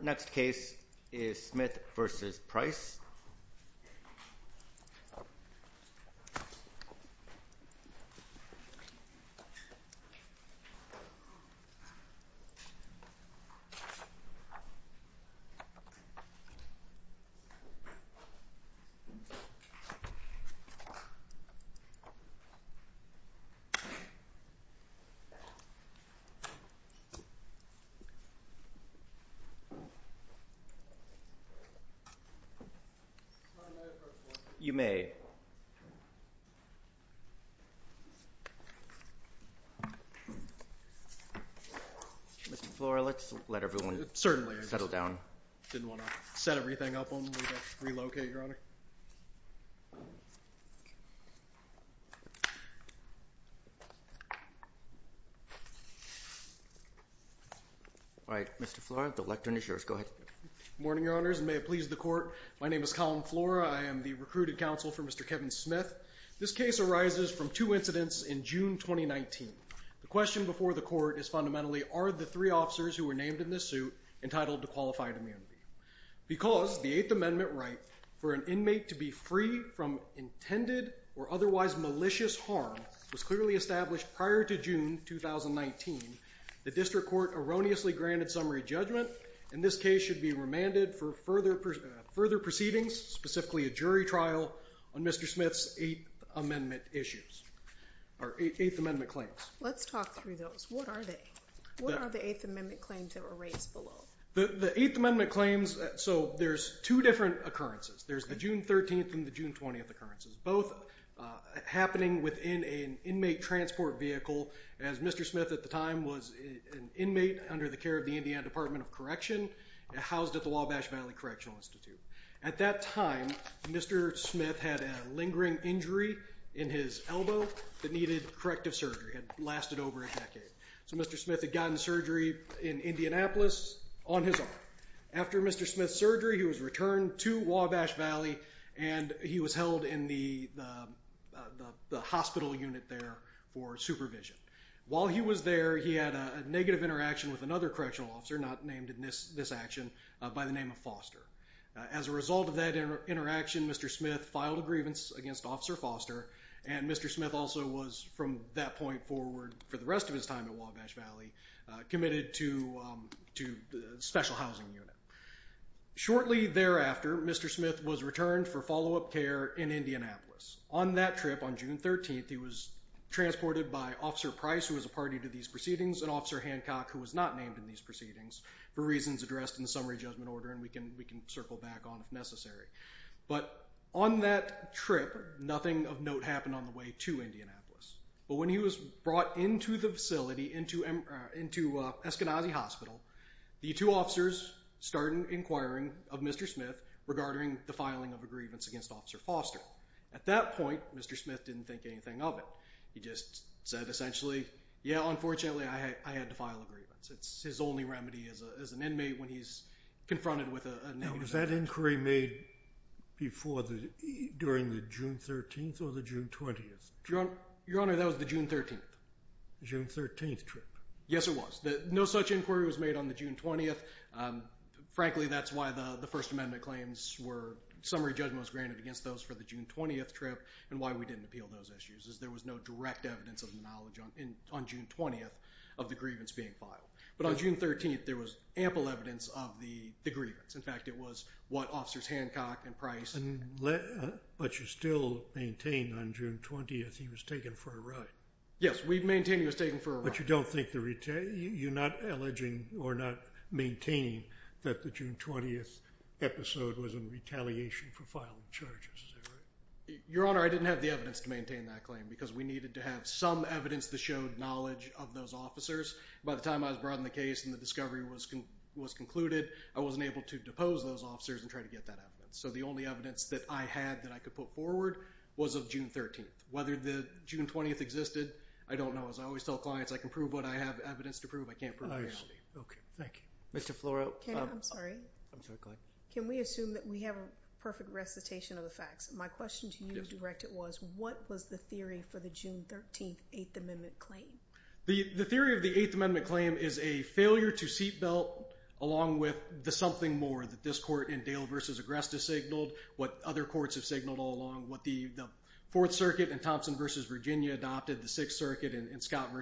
Next case is Smith v. Price. Mr. Flora, let's let everyone settle down. All right, Mr. Flora, the lectern is yours. Go ahead. Morning, Your Honors, and may it please the Court, my name is Collin Flora. I am the recruited counsel for Mr. Kevin Smith. This case arises from two incidents in June 2019. The question before the Court is fundamentally, are the three officers who were named in this suit entitled to qualified immunity? Because the Eighth Amendment right for an inmate to be free from intended or otherwise malicious harm was clearly established prior to June 2019, the District Court erroneously granted summary judgment, and this case should be remanded for further proceedings, specifically a jury trial on Mr. Smith's Eighth Amendment claims. Let's talk through those. What are they? What are the Eighth Amendment claims that were raised below? The Eighth Amendment claims, so there's two different occurrences. There's the June 13th and the June 20th occurrences, both happening within an inmate transport vehicle, as Mr. Smith at the time was an inmate under the care of the Indiana Department of Correction, housed at the Wabash Valley Correctional Institute. At that time, Mr. Smith had a lingering injury in his elbow that needed corrective surgery. It had lasted over a decade. So Mr. Smith had gotten surgery in Indianapolis on his arm. After Mr. Smith's surgery, he was returned to Wabash Valley, and he was held in the hospital unit there for supervision. While he was there, he had a negative interaction with another correctional officer, not named in this action, by the name of Foster. As a result of that interaction, Mr. Smith filed a grievance against Officer Foster, and Mr. Smith also was, from that point forward for the rest of his time at Wabash Valley, committed to a special housing unit. Shortly thereafter, Mr. Smith was returned for follow-up care in Indianapolis. On that trip, on June 13th, he was transported by Officer Price, who was a party to these proceedings, and Officer Hancock, who was not named in these proceedings, for reasons addressed in the summary judgment order, and we can circle back on if necessary. But on that trip, nothing of note happened on the way to Indianapolis. But when he was brought into the facility, into Eskenazi Hospital, the two officers started inquiring of Mr. Smith regarding the filing of a grievance against Officer Foster. At that point, Mr. Smith didn't think anything of it. He just said essentially, yeah, unfortunately, I had to file a grievance. It's his only remedy as an inmate when he's confronted with a negative action. Was that inquiry made during the June 13th or the June 20th trip? Your Honor, that was the June 13th. June 13th trip. Yes, it was. No such inquiry was made on the June 20th. Frankly, that's why the First Amendment claims were summary judgments granted against those for the June 20th trip, and why we didn't appeal those issues, is there was no direct evidence of the knowledge on June 20th of the grievance being filed. But on June 13th, there was ample evidence of the grievance. In fact, it was what Officers Hancock and Price... But you still maintain on June 20th, he was taken for a ride. Yes, we maintain he was taken for a ride. But you're not alleging or not maintaining that the June 20th episode was in retaliation for filing charges, is that right? Your Honor, I didn't have the evidence to maintain that claim, because we needed to have some evidence that showed knowledge of those officers. By the time I was brought on the case and the discovery was concluded, I wasn't able to depose those officers and try to get that evidence. So the only evidence that I had that I could put forward was of June 13th. Whether the June 20th existed, I don't know. As I always tell clients, I can prove what I have evidence to prove, I can't prove reality. Okay, thank you. Mr. Floro. I'm sorry. I'm sorry, go ahead. Can we assume that we have a perfect recitation of the facts? My question to you, Director, was what was the theory for the June 13th Eighth Amendment claim? The theory of the Eighth Amendment claim is a failure to seatbelt along with the something more that this court in Dale v. Agresta signaled, what other courts have signaled all along, what the Fourth Circuit in Thompson v. Virginia adopted, the Sixth Circuit in Scott v.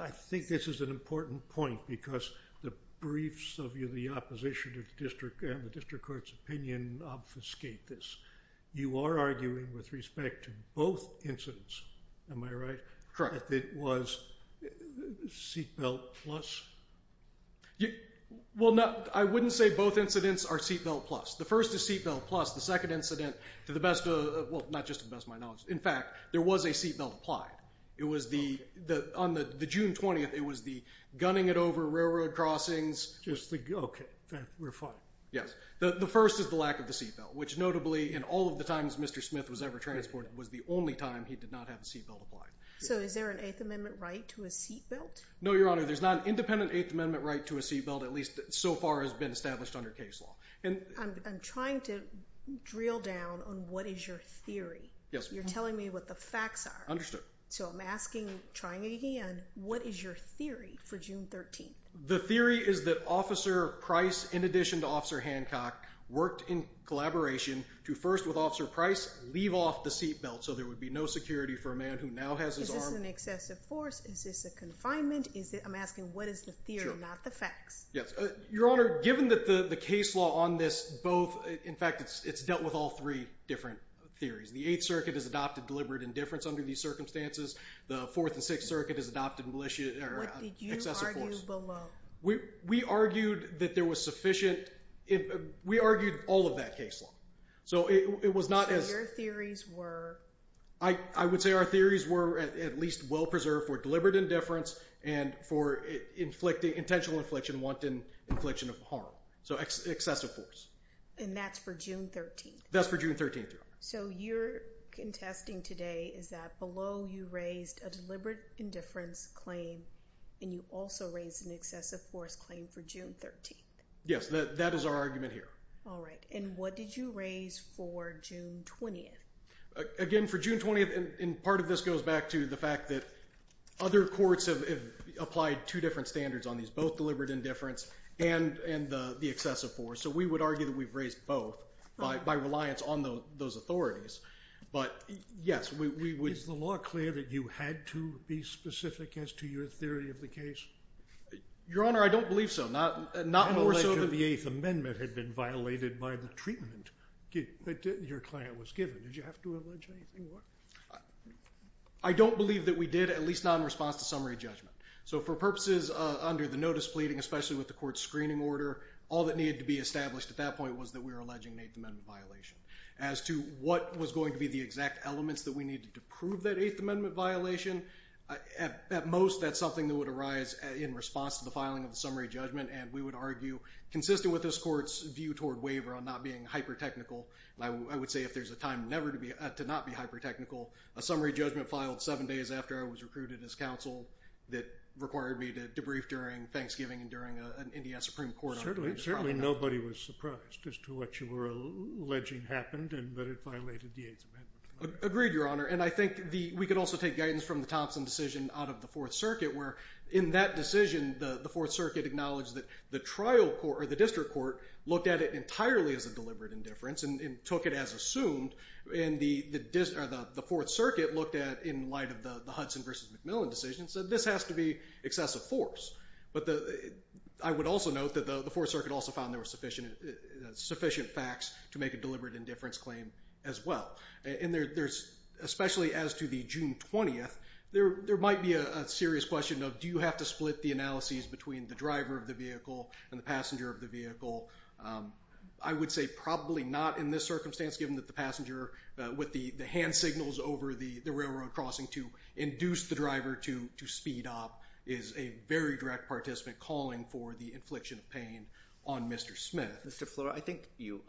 I think this is an important point, because the briefs of the opposition to the district and the district court's opinion obfuscate this. You are arguing with respect to both incidents, am I right? Correct. The fact that it was seatbelt plus? Well, I wouldn't say both incidents are seatbelt plus. The first is seatbelt plus. The second incident, to the best of, well, not just to the best of my knowledge, in fact, there was a seatbelt applied. It was the, on the June 20th, it was the gunning it over railroad crossings. Just the, okay, we're fine. Yes. The first is the lack of the seatbelt, which notably, in all of the times Mr. Smith was ever transported, was the only time he did not have a seatbelt applied. So is there an Eighth Amendment right to a seatbelt? No, Your Honor, there's not an independent Eighth Amendment right to a seatbelt, at least so far as been established under case law. I'm trying to drill down on what is your theory. Yes. You're telling me what the facts are. So I'm asking, trying again, what is your theory for June 13th? The theory is that Officer Price, in addition to Officer Hancock, worked in collaboration to first, with Officer Price, leave off the seatbelt so there would be no security for a man who now has his arm. Is this an excessive force? Is this a confinement? I'm asking, what is the theory, not the facts? Yes. Your Honor, given that the case law on this both, in fact, it's dealt with all three different theories. The Eighth Circuit has adopted deliberate indifference under these circumstances. The Fourth and Sixth Circuit has adopted excessive force. What did you argue below? We argued that there was sufficient, we argued all of that case law. So it was not as... So your theories were? I would say our theories were at least well preserved for deliberate indifference and for intentional infliction, wanton infliction of harm. So excessive force. And that's for June 13th? That's for June 13th, Your Honor. So you're contesting today is that below you raised a deliberate indifference claim and you also raised an excessive force claim for June 13th? Yes. That is our argument here. All right. And what did you raise for June 20th? Again, for June 20th, and part of this goes back to the fact that other courts have applied two different standards on these, both deliberate indifference and the excessive force. So we would argue that we've raised both by reliance on those authorities. But yes, we would... Is the law clear that you had to be specific as to your theory of the case? Your Honor, I don't believe so. Not more so than... Did you have to allege anything more? I don't believe that we did, at least not in response to summary judgment. So for purposes under the notice pleading, especially with the court's screening order, all that needed to be established at that point was that we were alleging an Eighth Amendment violation. As to what was going to be the exact elements that we needed to prove that Eighth Amendment violation, at most that's something that would arise in response to the filing of the summary judgment. And we would argue, consistent with this court's view toward waiver on not being hyper-technical, I would say if there's a time never to not be hyper-technical, a summary judgment filed seven days after I was recruited as counsel that required me to debrief during Thanksgiving and during an NDS Supreme Court... Certainly nobody was surprised as to what you were alleging happened, but it violated the Eighth Amendment. Agreed, Your Honor. And I think we could also take guidance from the Thompson decision out of the Fourth Circuit, where in that decision the Fourth Circuit acknowledged that the trial court, or the district court, looked at it entirely as a deliberate indifference. And took it as assumed. And the Fourth Circuit looked at it in light of the Hudson v. McMillan decision and said this has to be excessive force. But I would also note that the Fourth Circuit also found there were sufficient facts to make a deliberate indifference claim as well. And especially as to the June 20th, there might be a serious question of, do you have to split the analyses between the driver of the vehicle and the passenger of the vehicle? I would say probably not in this circumstance, given that the passenger with the hand signals over the railroad crossing to induce the driver to speed up is a very direct participant calling for the infliction of pain on Mr. Smith. Mr. Flora, I think you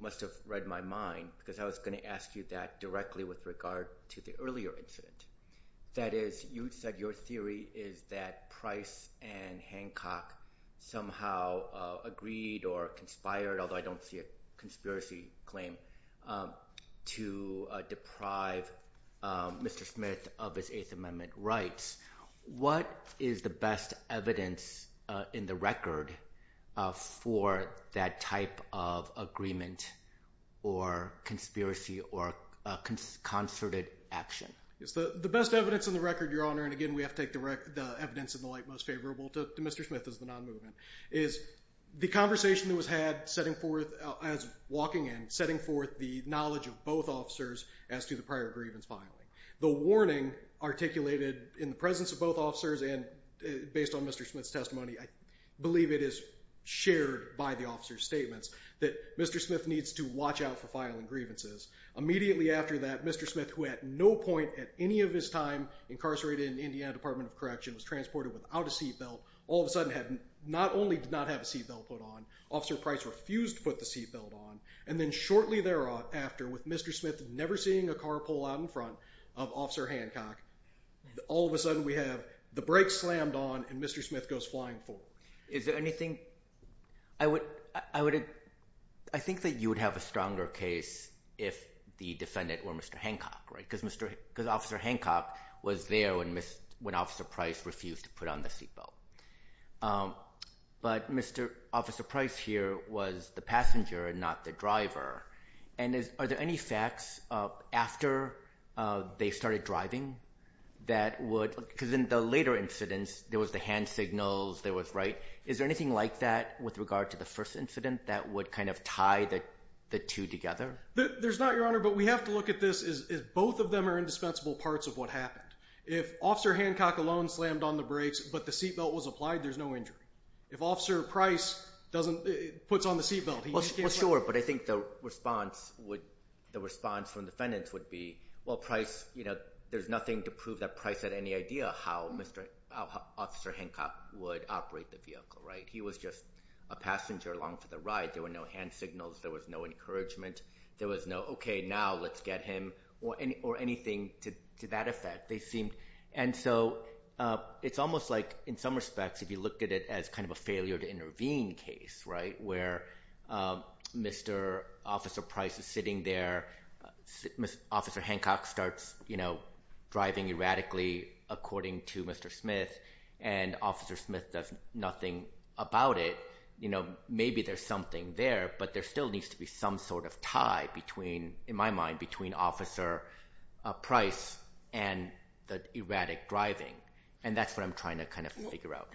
must have read my mind because I was going to ask you that directly with regard to the earlier incident. That is, you said your theory is that Price and Hancock somehow agreed or conspired, although I don't see a conspiracy claim, to deprive Mr. Smith of his Eighth Amendment rights. What is the best evidence in the record for that type of agreement or conspiracy or concerted action? The best evidence in the record, Your Honor, and again we have to take the evidence in the light most favorable to Mr. Smith as the non-movement, is the conversation that was had as walking in, setting forth the knowledge of both officers as to the prior grievance filing. The warning articulated in the presence of both officers and based on Mr. Smith's testimony, I believe it is shared by the officer's statements that Mr. Smith needs to watch out for filing grievances. Immediately after that, Mr. Smith, who at no point at any of his time incarcerated in the Indiana Department of Correction, was transported without a seat belt, all of a sudden not only did not have a seat belt put on, Officer Price refused to put the seat belt on, and then shortly thereafter, with Mr. Smith never seeing a car pull out in front of Officer Hancock, all of a sudden we have the brakes slammed on and Mr. Smith goes flying forward. Is there anything? I think that you would have a stronger case if the defendant were Mr. Hancock, right? Because Officer Hancock was there when Officer Price refused to put on the seat belt. But Officer Price here was the passenger and not the driver. Are there any facts after they started driving that would— because in the later incidents, there was the hand signals, there was— is there anything like that with regard to the first incident that would kind of tie the two together? There's not, Your Honor, but we have to look at this as both of them are indispensable parts of what happened. If Officer Hancock alone slammed on the brakes but the seat belt was applied, there's no injury. If Officer Price puts on the seat belt, he— Well, sure, but I think the response from defendants would be, well, Price—there's nothing to prove that Price had any idea how Officer Hancock would operate the vehicle, right? He was just a passenger along for the ride. There were no hand signals. There was no encouragement. There was no, okay, now let's get him or anything to that effect. They seemed—and so it's almost like in some respects if you look at it as kind of a failure to intervene case, right, where Mr. Officer Price is sitting there. Officer Hancock starts driving erratically according to Mr. Smith, and Officer Smith does nothing about it. Maybe there's something there, but there still needs to be some sort of tie between, in my mind, between Officer Price and the erratic driving, and that's what I'm trying to kind of figure out.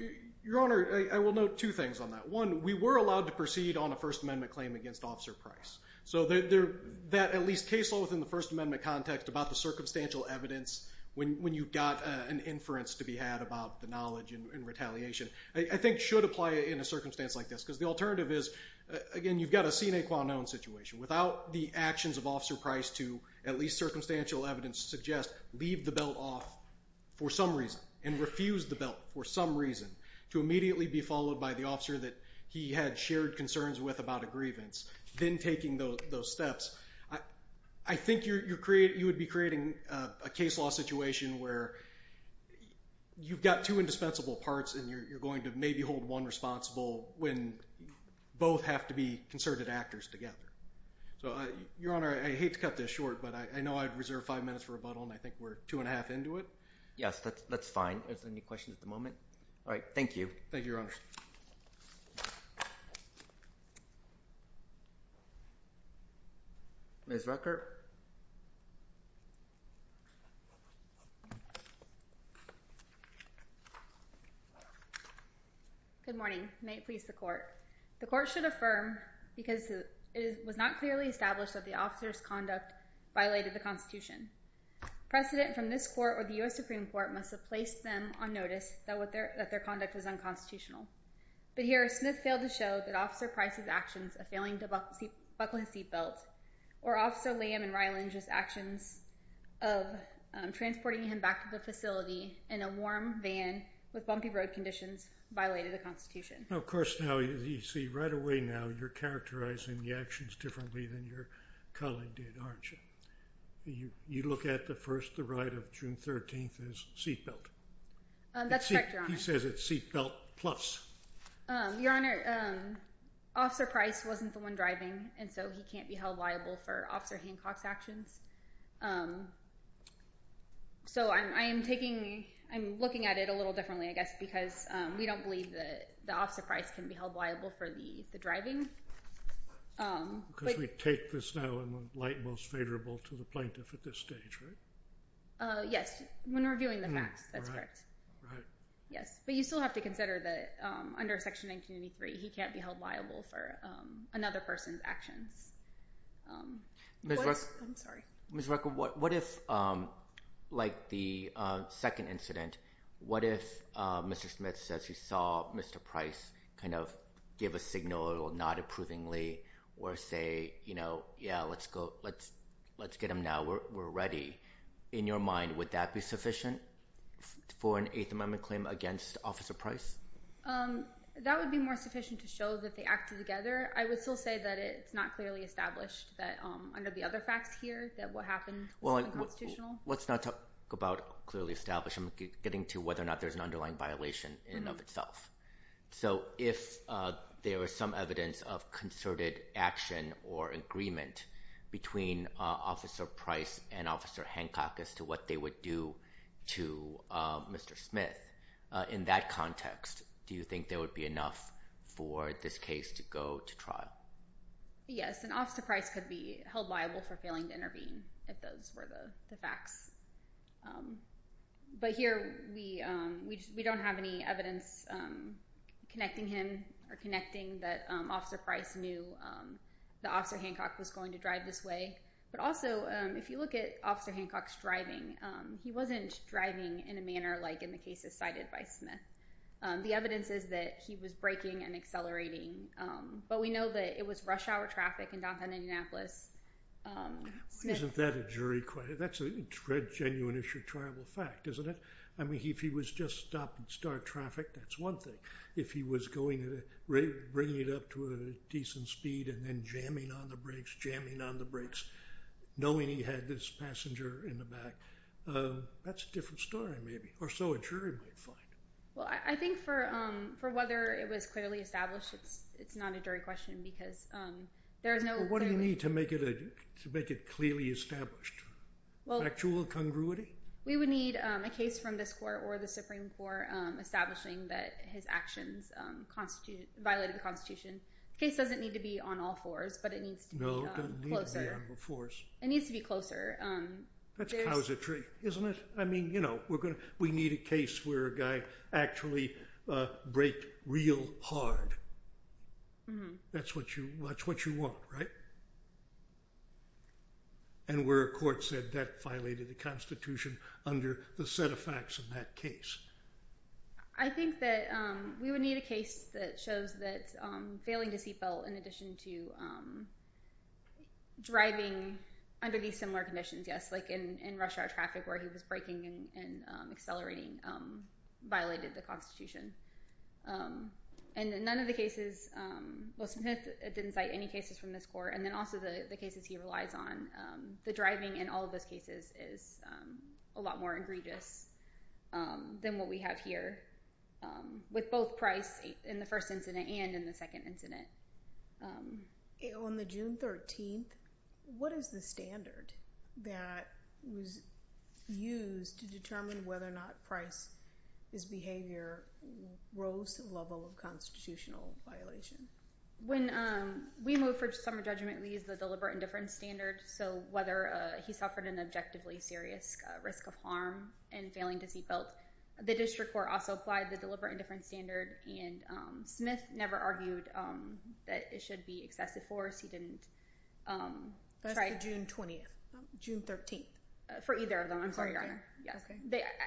Your Honor, I will note two things on that. One, we were allowed to proceed on a First Amendment claim against Officer Price, so that at least case law within the First Amendment context about the circumstantial evidence when you've got an inference to be had about the knowledge and retaliation I think should apply in a circumstance like this because the alternative is, again, you've got a sine qua non situation. Without the actions of Officer Price to, at least circumstantial evidence suggests, leave the belt off for some reason and refuse the belt for some reason to immediately be followed by the officer that he had shared concerns with about a grievance, then taking those steps, I think you would be creating a case law situation where you've got two indispensable parts and you're going to maybe hold one responsible when both have to be concerted actors together. So, Your Honor, I hate to cut this short, but I know I've reserved five minutes for rebuttal, and I think we're two and a half into it. Yes, that's fine. Are there any questions at the moment? All right, thank you. Thank you, Your Honor. Ms. Rucker? Good morning. May it please the Court. The Court should affirm, because it was not clearly established that the officer's conduct violated the Constitution, precedent from this Court or the U.S. Supreme Court must have placed them on notice that their conduct was unconstitutional. But here Smith failed to show that Officer Price's actions of failing to buckle his seat belt or Officer Lamb and Ryland's actions of transporting him back to the facility in a warm van with bumpy road conditions violated the Constitution. Of course, now you see right away now you're characterizing the actions differently than your colleague did, aren't you? You look at the first, the right of June 13th as seat belt. That's correct, Your Honor. He says it's seat belt plus. Your Honor, Officer Price wasn't the one driving, and so he can't be held liable for Officer Hancock's actions. So I am looking at it a little differently, I guess, because we don't believe that Officer Price can be held liable for the driving. Because we take this now in the light most favorable to the plaintiff at this stage, right? Yes, when reviewing the facts, that's correct. Right. Yes, but you still have to consider that under Section 1993, he can't be held liable for another person's actions. Ms. Rucker, what if, like the second incident, what if Mr. Smith says he saw Mr. Price kind of give a signal not approvingly or say, you know, yeah, let's get him now, we're ready. In your mind, would that be sufficient for an Eighth Amendment claim against Officer Price? That would be more sufficient to show that they acted together. I would still say that it's not clearly established that under the other facts here that what happened was unconstitutional. Well, let's not talk about clearly established. I'm getting to whether or not there's an underlying violation in and of itself. So if there is some evidence of concerted action or agreement between Officer Price and Officer Hancock as to what they would do to Mr. Smith, in that context, do you think there would be enough for this case to go to trial? Yes, and Officer Price could be held liable for failing to intervene if those were the facts. But here, we don't have any evidence connecting him or connecting that Officer Price knew that Officer Hancock was going to drive this way. But also, if you look at Officer Hancock's driving, he wasn't driving in a manner like in the cases cited by Smith. The evidence is that he was braking and accelerating, but we know that it was rush hour traffic in Dothan, Indianapolis. Well, isn't that a jury question? That's a genuine issue, triable fact, isn't it? I mean, if he was just stopping star traffic, that's one thing. If he was bringing it up to a decent speed and then jamming on the brakes, jamming on the brakes, knowing he had this passenger in the back, that's a different story, maybe, or so a jury might find. Well, I think for whether it was clearly established, it's not a jury question because there is no... What do you need to make it clearly established? Actual congruity? We would need a case from this court or the Supreme Court establishing that his actions violated the Constitution. The case doesn't need to be on all fours, but it needs to be closer. No, it doesn't need to be on all fours. It needs to be closer. That's a cow's a tree, isn't it? I mean, you know, we need a case where a guy actually braked real hard. That's what you want, right? And where a court said that violated the Constitution under the set of facts in that case. I think that we would need a case that shows that failing to seat belt in addition to driving under these similar conditions, yes, like in rush hour traffic where he was braking and accelerating, violated the Constitution. And none of the cases, well, Smith didn't cite any cases from this court, and then also the cases he relies on. The driving in all of those cases is a lot more egregious than what we have here, with both Price in the first incident and in the second incident. On the June 13th, what is the standard that was used to determine whether or not Price's behavior rose to the level of constitutional violation? When we moved for summer judgment, we used the deliberate indifference standard. So whether he suffered an objectively serious risk of harm in failing to seat belt, the district court also applied the deliberate indifference standard, and Smith never argued that it should be excessive force. That's the June 20th, June 13th. For either of them, I'm sorry, Your Honor.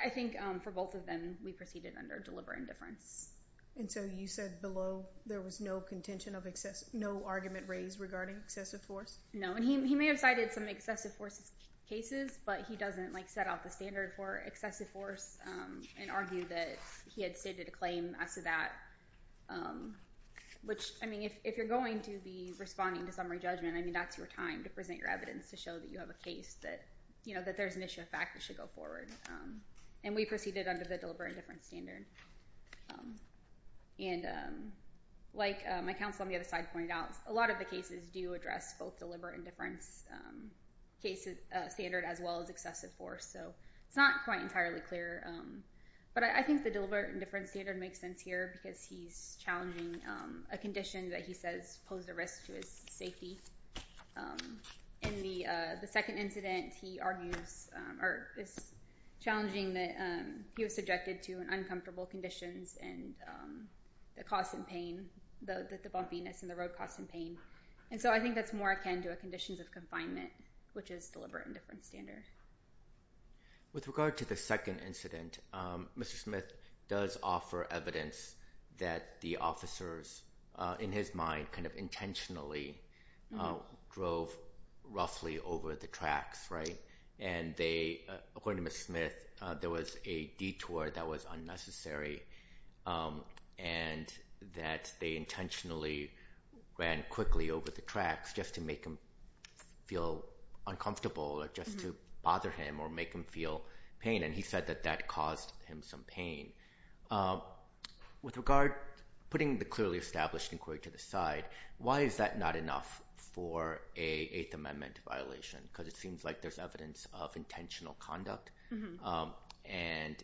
I think for both of them, we proceeded under deliberate indifference. And so you said below there was no contention of excess, no argument raised regarding excessive force? No, and he may have cited some excessive force cases, but he doesn't set out the standard for excessive force and argue that he had stated a claim as to that. Which, I mean, if you're going to be responding to summary judgment, I mean, that's your time to present your evidence to show that you have a case that, you know, that there's an issue of fact that should go forward. And we proceeded under the deliberate indifference standard. And like my counsel on the other side pointed out, a lot of the cases do address both deliberate indifference standard as well as excessive force. So it's not quite entirely clear. But I think the deliberate indifference standard makes sense here because he's challenging a condition that he says posed a risk to his safety. In the second incident, he argues or is challenging that he was subjected to uncomfortable conditions and the cost and pain, the bumpiness and the road cost and pain. And so I think that's more akin to conditions of confinement, which is deliberate indifference standard. With regard to the second incident, Mr. Smith does offer evidence that the officers, in his mind, kind of intentionally drove roughly over the tracks, right? And they, according to Mr. Smith, there was a detour that was unnecessary and that they intentionally ran quickly over the tracks just to make him feel uncomfortable or just to bother him or make him feel pain. And he said that that caused him some pain. With regard, putting the clearly established inquiry to the side, why is that not enough for an Eighth Amendment violation? Because it seems like there's evidence of intentional conduct. And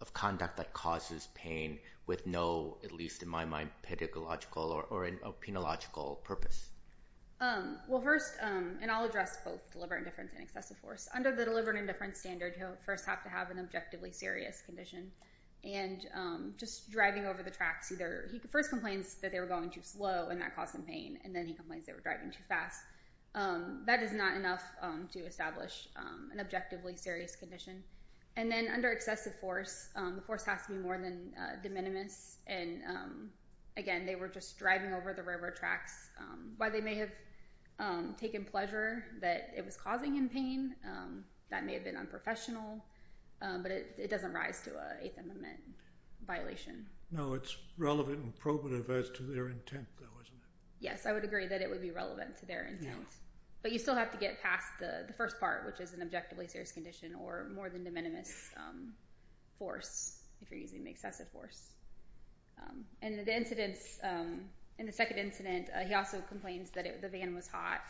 of conduct that causes pain with no, at least in my mind, pedagogical or a penological purpose. Well, first, and I'll address both deliberate indifference and excessive force. Under the deliberate indifference standard, you first have to have an objectively serious condition. And just driving over the tracks, he first complains that they were going too slow and that caused him pain, and then he complains they were driving too fast. That is not enough to establish an objectively serious condition. And then under excessive force, the force has to be more than de minimis. And again, they were just driving over the railroad tracks. While they may have taken pleasure that it was causing him pain, that may have been unprofessional, but it doesn't rise to an Eighth Amendment violation. No, it's relevant and probative as to their intent, though, isn't it? Yes, I would agree that it would be relevant to their intent. But you still have to get past the first part, which is an objectively serious condition or more than de minimis force if you're using excessive force. And the incidents, in the second incident, he also complains that the van was hot.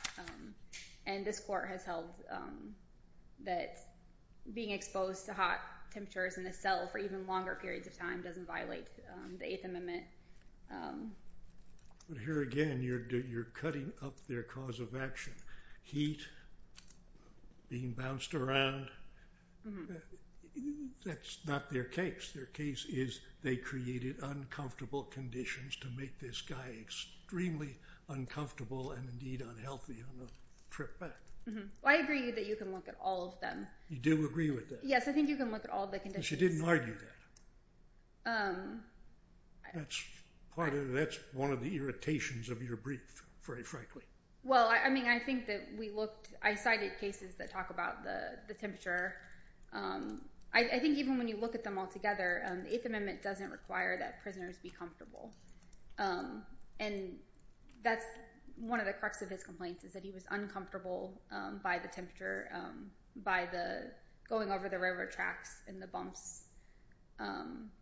And this court has held that being exposed to hot temperatures in the cell for even longer periods of time doesn't violate the Eighth Amendment. But here again, you're cutting up their cause of action. Heat, being bounced around, that's not their case. Their case is they created uncomfortable conditions to make this guy extremely uncomfortable and indeed unhealthy on the trip back. I agree that you can look at all of them. You do agree with that? Yes, I think you can look at all the conditions. But you didn't argue that. That's one of the irritations of your brief, very frankly. Well, I mean, I think that we looked. I cited cases that talk about the temperature. I think even when you look at them all together, the Eighth Amendment doesn't require that prisoners be comfortable. And that's one of the crux of his complaints is that he was uncomfortable by the temperature, by going over the railroad tracks and the bumps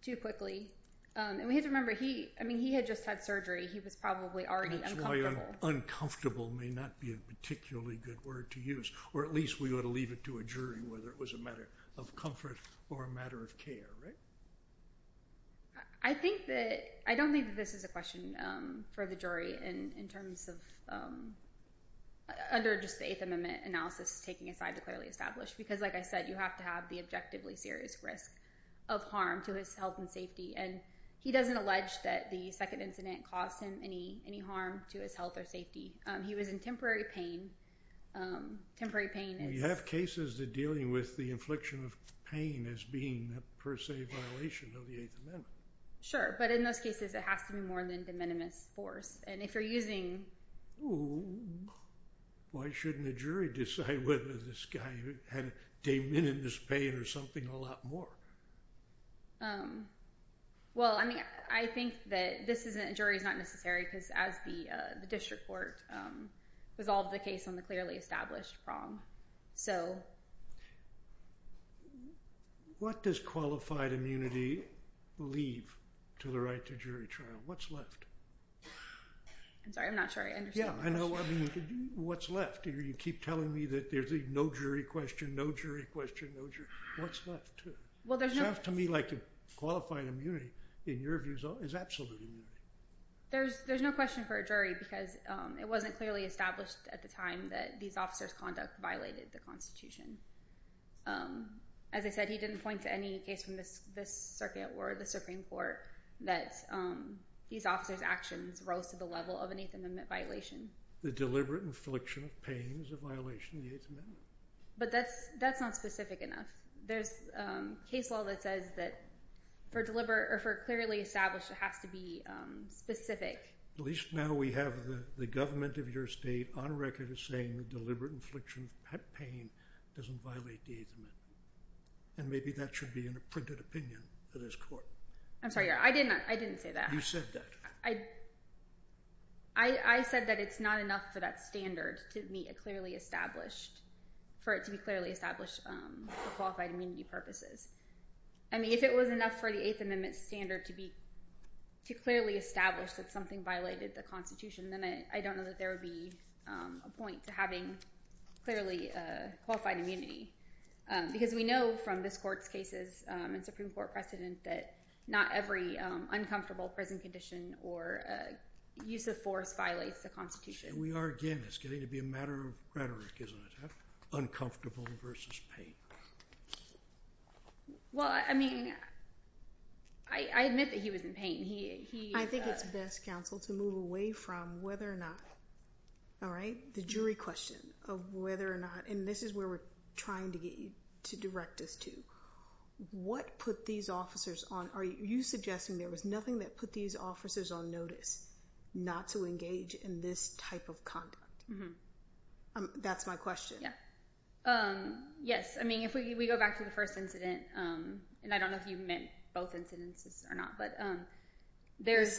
too quickly. And we have to remember, I mean, he had just had surgery. He was probably already uncomfortable. That's why uncomfortable may not be a particularly good word to use, or at least we ought to leave it to a jury whether it was a matter of comfort or a matter of care, right? I don't think that this is a question for the jury in terms of under just the Eighth Amendment analysis taking a side to clearly establish because, like I said, you have to have the objectively serious risk of harm to his health and safety. And he doesn't allege that the second incident caused him any harm to his health or safety. He was in temporary pain. You have cases that are dealing with the infliction of pain as being, per se, a violation of the Eighth Amendment. Sure, but in those cases, it has to be more than de minimis force. And if you're using— Why shouldn't a jury decide whether this guy had de minimis pain or something a lot more? Well, I mean, I think that this isn't—a jury is not necessary because as the district court resolved the case on the clearly established problem. What does qualified immunity leave to the right to jury trial? What's left? I'm sorry. I'm not sure I understand. Yeah, I know. I mean, what's left? You keep telling me that there's a no jury question, no jury question, no jury. What's left? Well, there's no— It sounds to me like qualified immunity, in your view, is absolute immunity. There's no question for a jury because it wasn't clearly established at the time that these officers' conduct violated the Constitution. As I said, he didn't point to any case from this circuit or the Supreme Court that these officers' actions rose to the level of an Eighth Amendment violation. The deliberate infliction of pain is a violation of the Eighth Amendment. But that's not specific enough. There's case law that says that for clearly established, it has to be specific. At least now we have the government of your state on record as saying that deliberate infliction of pain doesn't violate the Eighth Amendment. And maybe that should be in a printed opinion for this court. I'm sorry. I didn't say that. You said that. I said that it's not enough for that standard to meet a clearly established—for it to be clearly established for qualified immunity purposes. I mean, if it was enough for the Eighth Amendment standard to clearly establish that something violated the Constitution, then I don't know that there would be a point to having clearly qualified immunity. Because we know from this court's cases and Supreme Court precedent that not every uncomfortable prison condition or use of force violates the Constitution. We are, again—it's getting to be a matter of rhetoric, isn't it? Uncomfortable versus pain. Well, I mean, I admit that he was in pain. I think it's best, counsel, to move away from whether or not—all right? The jury question of whether or not—and this is where we're trying to get you to direct us to. What put these officers on—are you suggesting there was nothing that put these officers on notice not to engage in this type of conduct? That's my question. Yeah. Yes. I mean, if we go back to the first incident, and I don't know if you meant both incidents or not, but there's—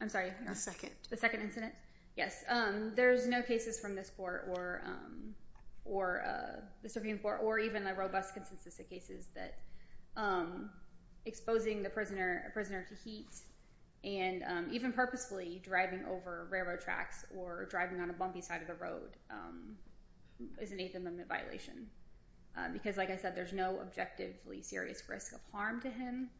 I'm sorry? The second. The second incident? Yes. There's no cases from this court or the Supreme Court or even the robust consensus of cases that exposing the prisoner to heat and even purposefully driving over railroad tracks or driving on a bumpy side of the road is an eighth-amendment violation. Because, like I said, there's no objectively serious risk of harm to him.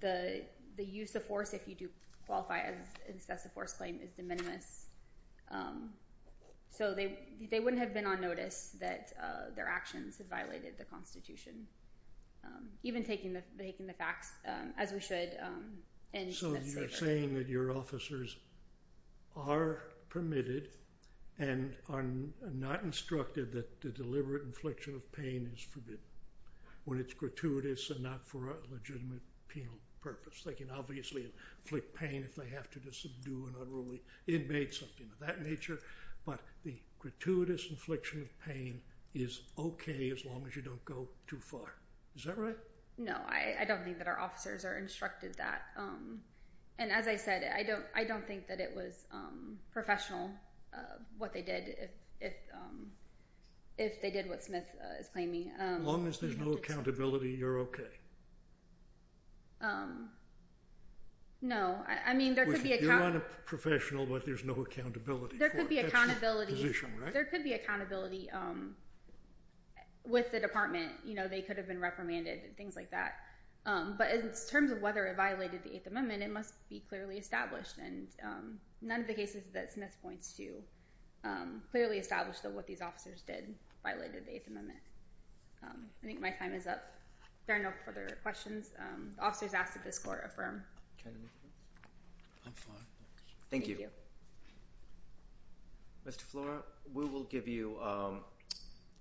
The use of force, if you do qualify as excessive force claim, is de minimis. So they wouldn't have been on notice that their actions had violated the Constitution, even taking the facts as we should in— So you're saying that your officers are permitted and are not instructed that the deliberate infliction of pain is forbidden when it's gratuitous and not for a legitimate penal purpose. They can obviously inflict pain if they have to subdue an unruly inmate, something of that nature. But the gratuitous infliction of pain is okay as long as you don't go too far. Is that right? No, I don't think that our officers are instructed that. And as I said, I don't think that it was professional what they did if they did what Smith is claiming. As long as there's no accountability, you're okay? No. I mean, there could be— You're not a professional, but there's no accountability for it. There could be accountability with the department. They could have been reprimanded and things like that. But in terms of whether it violated the Eighth Amendment, it must be clearly established. And none of the cases that Smith points to clearly establish that what these officers did violated the Eighth Amendment. I think my time is up. If there are no further questions, the officers asked that this Court affirm. Thank you. Mr. Flora, we will give you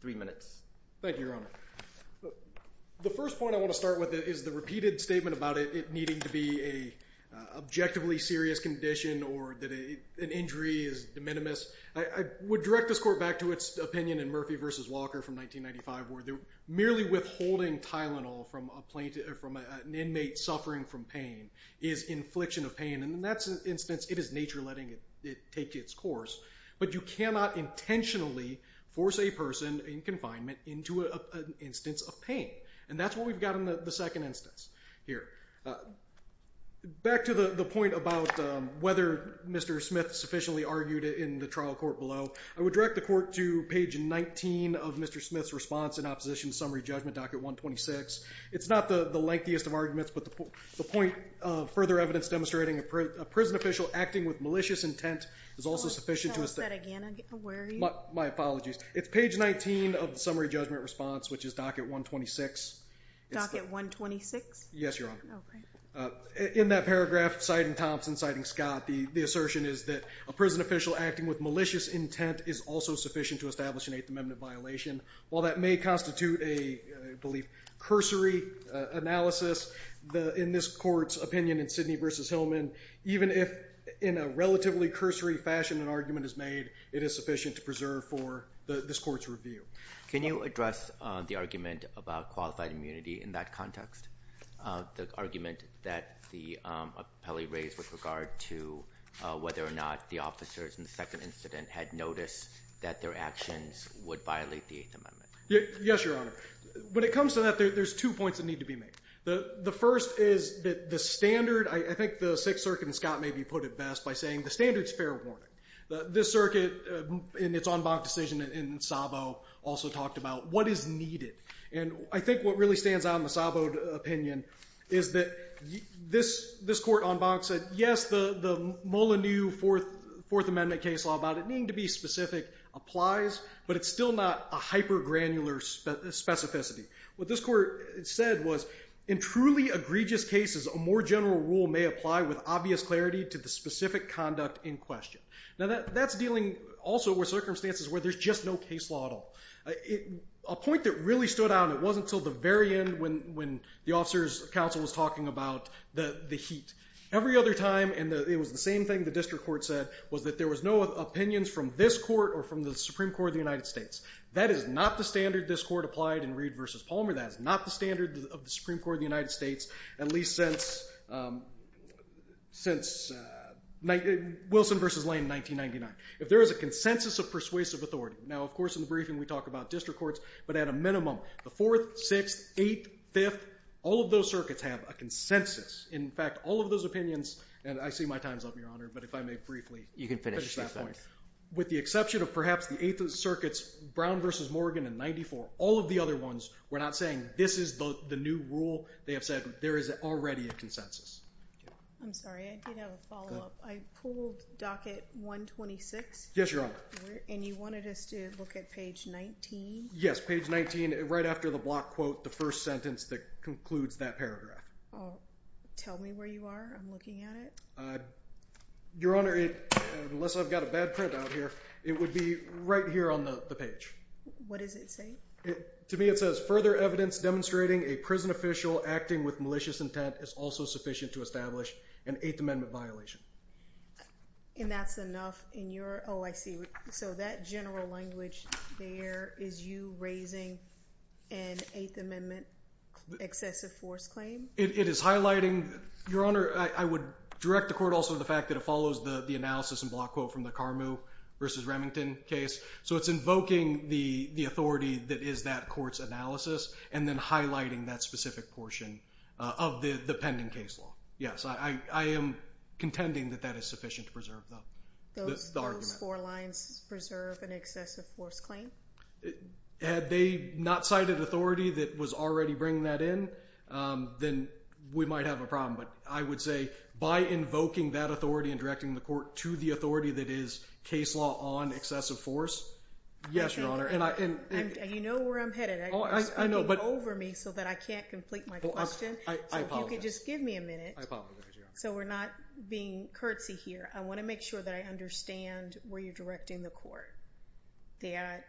three minutes. Thank you, Your Honor. The first point I want to start with is the repeated statement about it needing to be an objectively serious condition or that an injury is de minimis. I would direct this Court back to its opinion in Murphy v. Walker from 1995 where merely withholding Tylenol from an inmate suffering from pain is infliction of pain. And in that instance, it is nature letting it take its course. But you cannot intentionally force a person in confinement into an instance of pain. And that's what we've got in the second instance here. Back to the point about whether Mr. Smith sufficiently argued it in the trial court below. I would direct the Court to page 19 of Mr. Smith's response in Opposition Summary Judgment, Docket 126. It's not the lengthiest of arguments, but the point of further evidence demonstrating a prison official acting with malicious intent is also sufficient to... Can you tell us that again? Where are you? My apologies. It's page 19 of the Summary Judgment response, which is Docket 126. Docket 126? Yes, Your Honor. In that paragraph, citing Thompson, citing Scott, the assertion is that a prison official acting with malicious intent is also sufficient to establish an Eighth Amendment violation. While that may constitute a, I believe, cursory analysis, in this Court's opinion in Sidney v. Hillman, even if in a relatively cursory fashion an argument is made, it is sufficient to preserve for this Court's review. Can you address the argument about qualified immunity in that context? The argument that the appellee raised with regard to whether or not the officers in the second incident had noticed that their actions would violate the Eighth Amendment. Yes, Your Honor. When it comes to that, there's two points that need to be made. The first is that the standard, I think the Sixth Circuit and Scott maybe put it best by saying the standard is fair warning. This Circuit, in its en banc decision in Sabo, also talked about what is needed. And I think what really stands out in the Sabo opinion is that this Court en banc said, yes, the Molineux Fourth Amendment case law, about it needing to be specific, applies, but it's still not a hyper granular specificity. What this Court said was, in truly egregious cases, a more general rule may apply with obvious clarity to the specific conduct in question. Now that's dealing also with circumstances where there's just no case law at all. A point that really stood out, and it wasn't until the very end when the officers' counsel was talking about the heat. Every other time, and it was the same thing the District Court said, was that there was no opinions from this Court or from the Supreme Court of the United States. That is not the standard this Court applied in Reed v. Palmer. That is not the standard of the Supreme Court of the United States at least since Wilson v. Lane in 1999. If there is a consensus of persuasive authority, now of course in the briefing we talk about District Courts, but at a minimum, the Fourth, Sixth, Eighth, Fifth, all of those circuits have a consensus. In fact, all of those opinions, and I see my time's up, Your Honor, but if I may briefly finish that point. With the exception of perhaps the Eighth Circuit's Brown v. Morgan in 1994, all of the other ones were not saying this is the new rule. They have said there is already a consensus. I'm sorry. I did have a follow-up. I pulled docket 126. Yes, Your Honor. And you wanted us to look at page 19? Yes, page 19 right after the block quote, the first sentence that concludes that paragraph. Tell me where you are. I'm looking at it. Your Honor, unless I've got a bad printout here, it would be right here on the page. What does it say? To me it says, Further evidence demonstrating a prison official acting with malicious intent is also sufficient to establish an Eighth Amendment violation. And that's enough. Oh, I see. So that general language there is you raising an Eighth Amendment excessive force claim? It is highlighting, Your Honor, I would direct the court also to the fact that it follows the analysis and block quote from the Carmoo v. Remington case. So it's invoking the authority that is that court's analysis and then highlighting that specific portion of the pending case law. Yes, I am contending that that is sufficient to preserve the argument. Those four lines preserve an excessive force claim? Had they not cited authority that was already bringing that in, then we might have a problem. But I would say by invoking that authority and directing the court to the authority that is case law on excessive force, yes, Your Honor. And you know where I'm headed. You're speaking over me so that I can't complete my question. I apologize. So if you could just give me a minute. I apologize, Your Honor. So we're not being curtsy here. I want to make sure that I understand where you're directing the court. That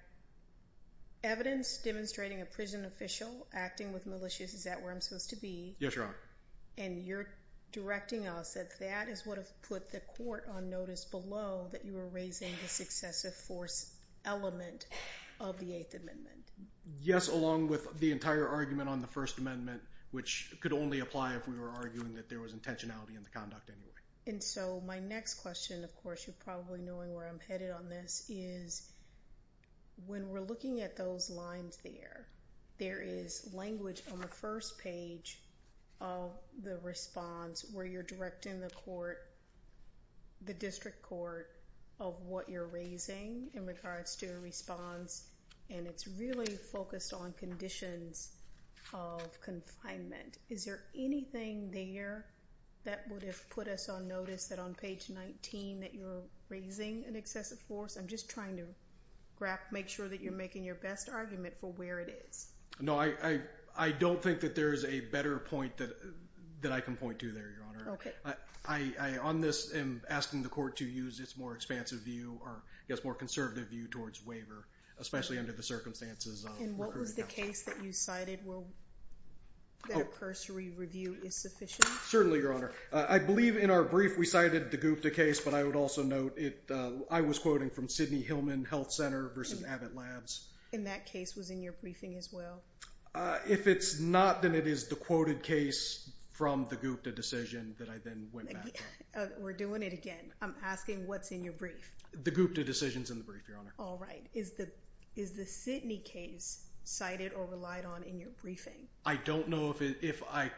evidence demonstrating a prison official acting with malicious, is that where I'm supposed to be? Yes, Your Honor. And you're directing us that that is what put the court on notice below that you were raising the excessive force element of the Eighth Amendment? Yes, along with the entire argument on the First Amendment, which could only apply if we were arguing that there was intentionality in the conduct anyway. And so my next question, of course, you're probably knowing where I'm headed on this, is when we're looking at those lines there, there is language on the first page of the response where you're directing the court, the district court, of what you're raising in regards to a response. And it's really focused on conditions of confinement. Is there anything there that would have put us on notice that on page 19 that you're raising an excessive force? I'm just trying to make sure that you're making your best argument for where it is. No, I don't think that there is a better point that I can point to there, Okay. I, on this, am asking the court to use its more expansive view, or I guess more conservative view, towards waiver, especially under the circumstances of recruiting. And what was the case that you cited that a cursory review is sufficient? Certainly, Your Honor. I believe in our brief we cited the Gupta case, but I would also note I was quoting from Sidney Hillman Health Center versus Abbott Labs. And that case was in your briefing as well? If it's not, then it is the quoted case from the Gupta decision that I then went back on. We're doing it again. I'm asking what's in your brief. The Gupta decision's in the brief, Your Honor. All right. Is the Sidney case cited or relied on in your briefing? I don't know if it, if I,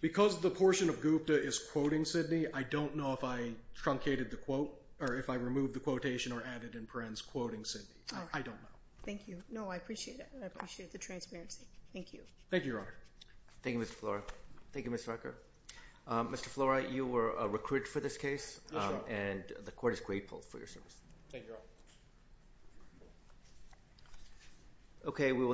because the portion of Gupta is quoting Sidney, I don't know if I truncated the quote, or if I removed the quotation or added in parens quoting Sidney. I don't know. Thank you. No, I appreciate it. I appreciate the transparency. Thank you. Thank you, Your Honor. Thank you, Mr. Flora. Thank you, Ms. Rucker. Mr. Flora, you were recruited for this case. Yes, Your Honor. And the court is grateful for your service. Thank you, Your Honor.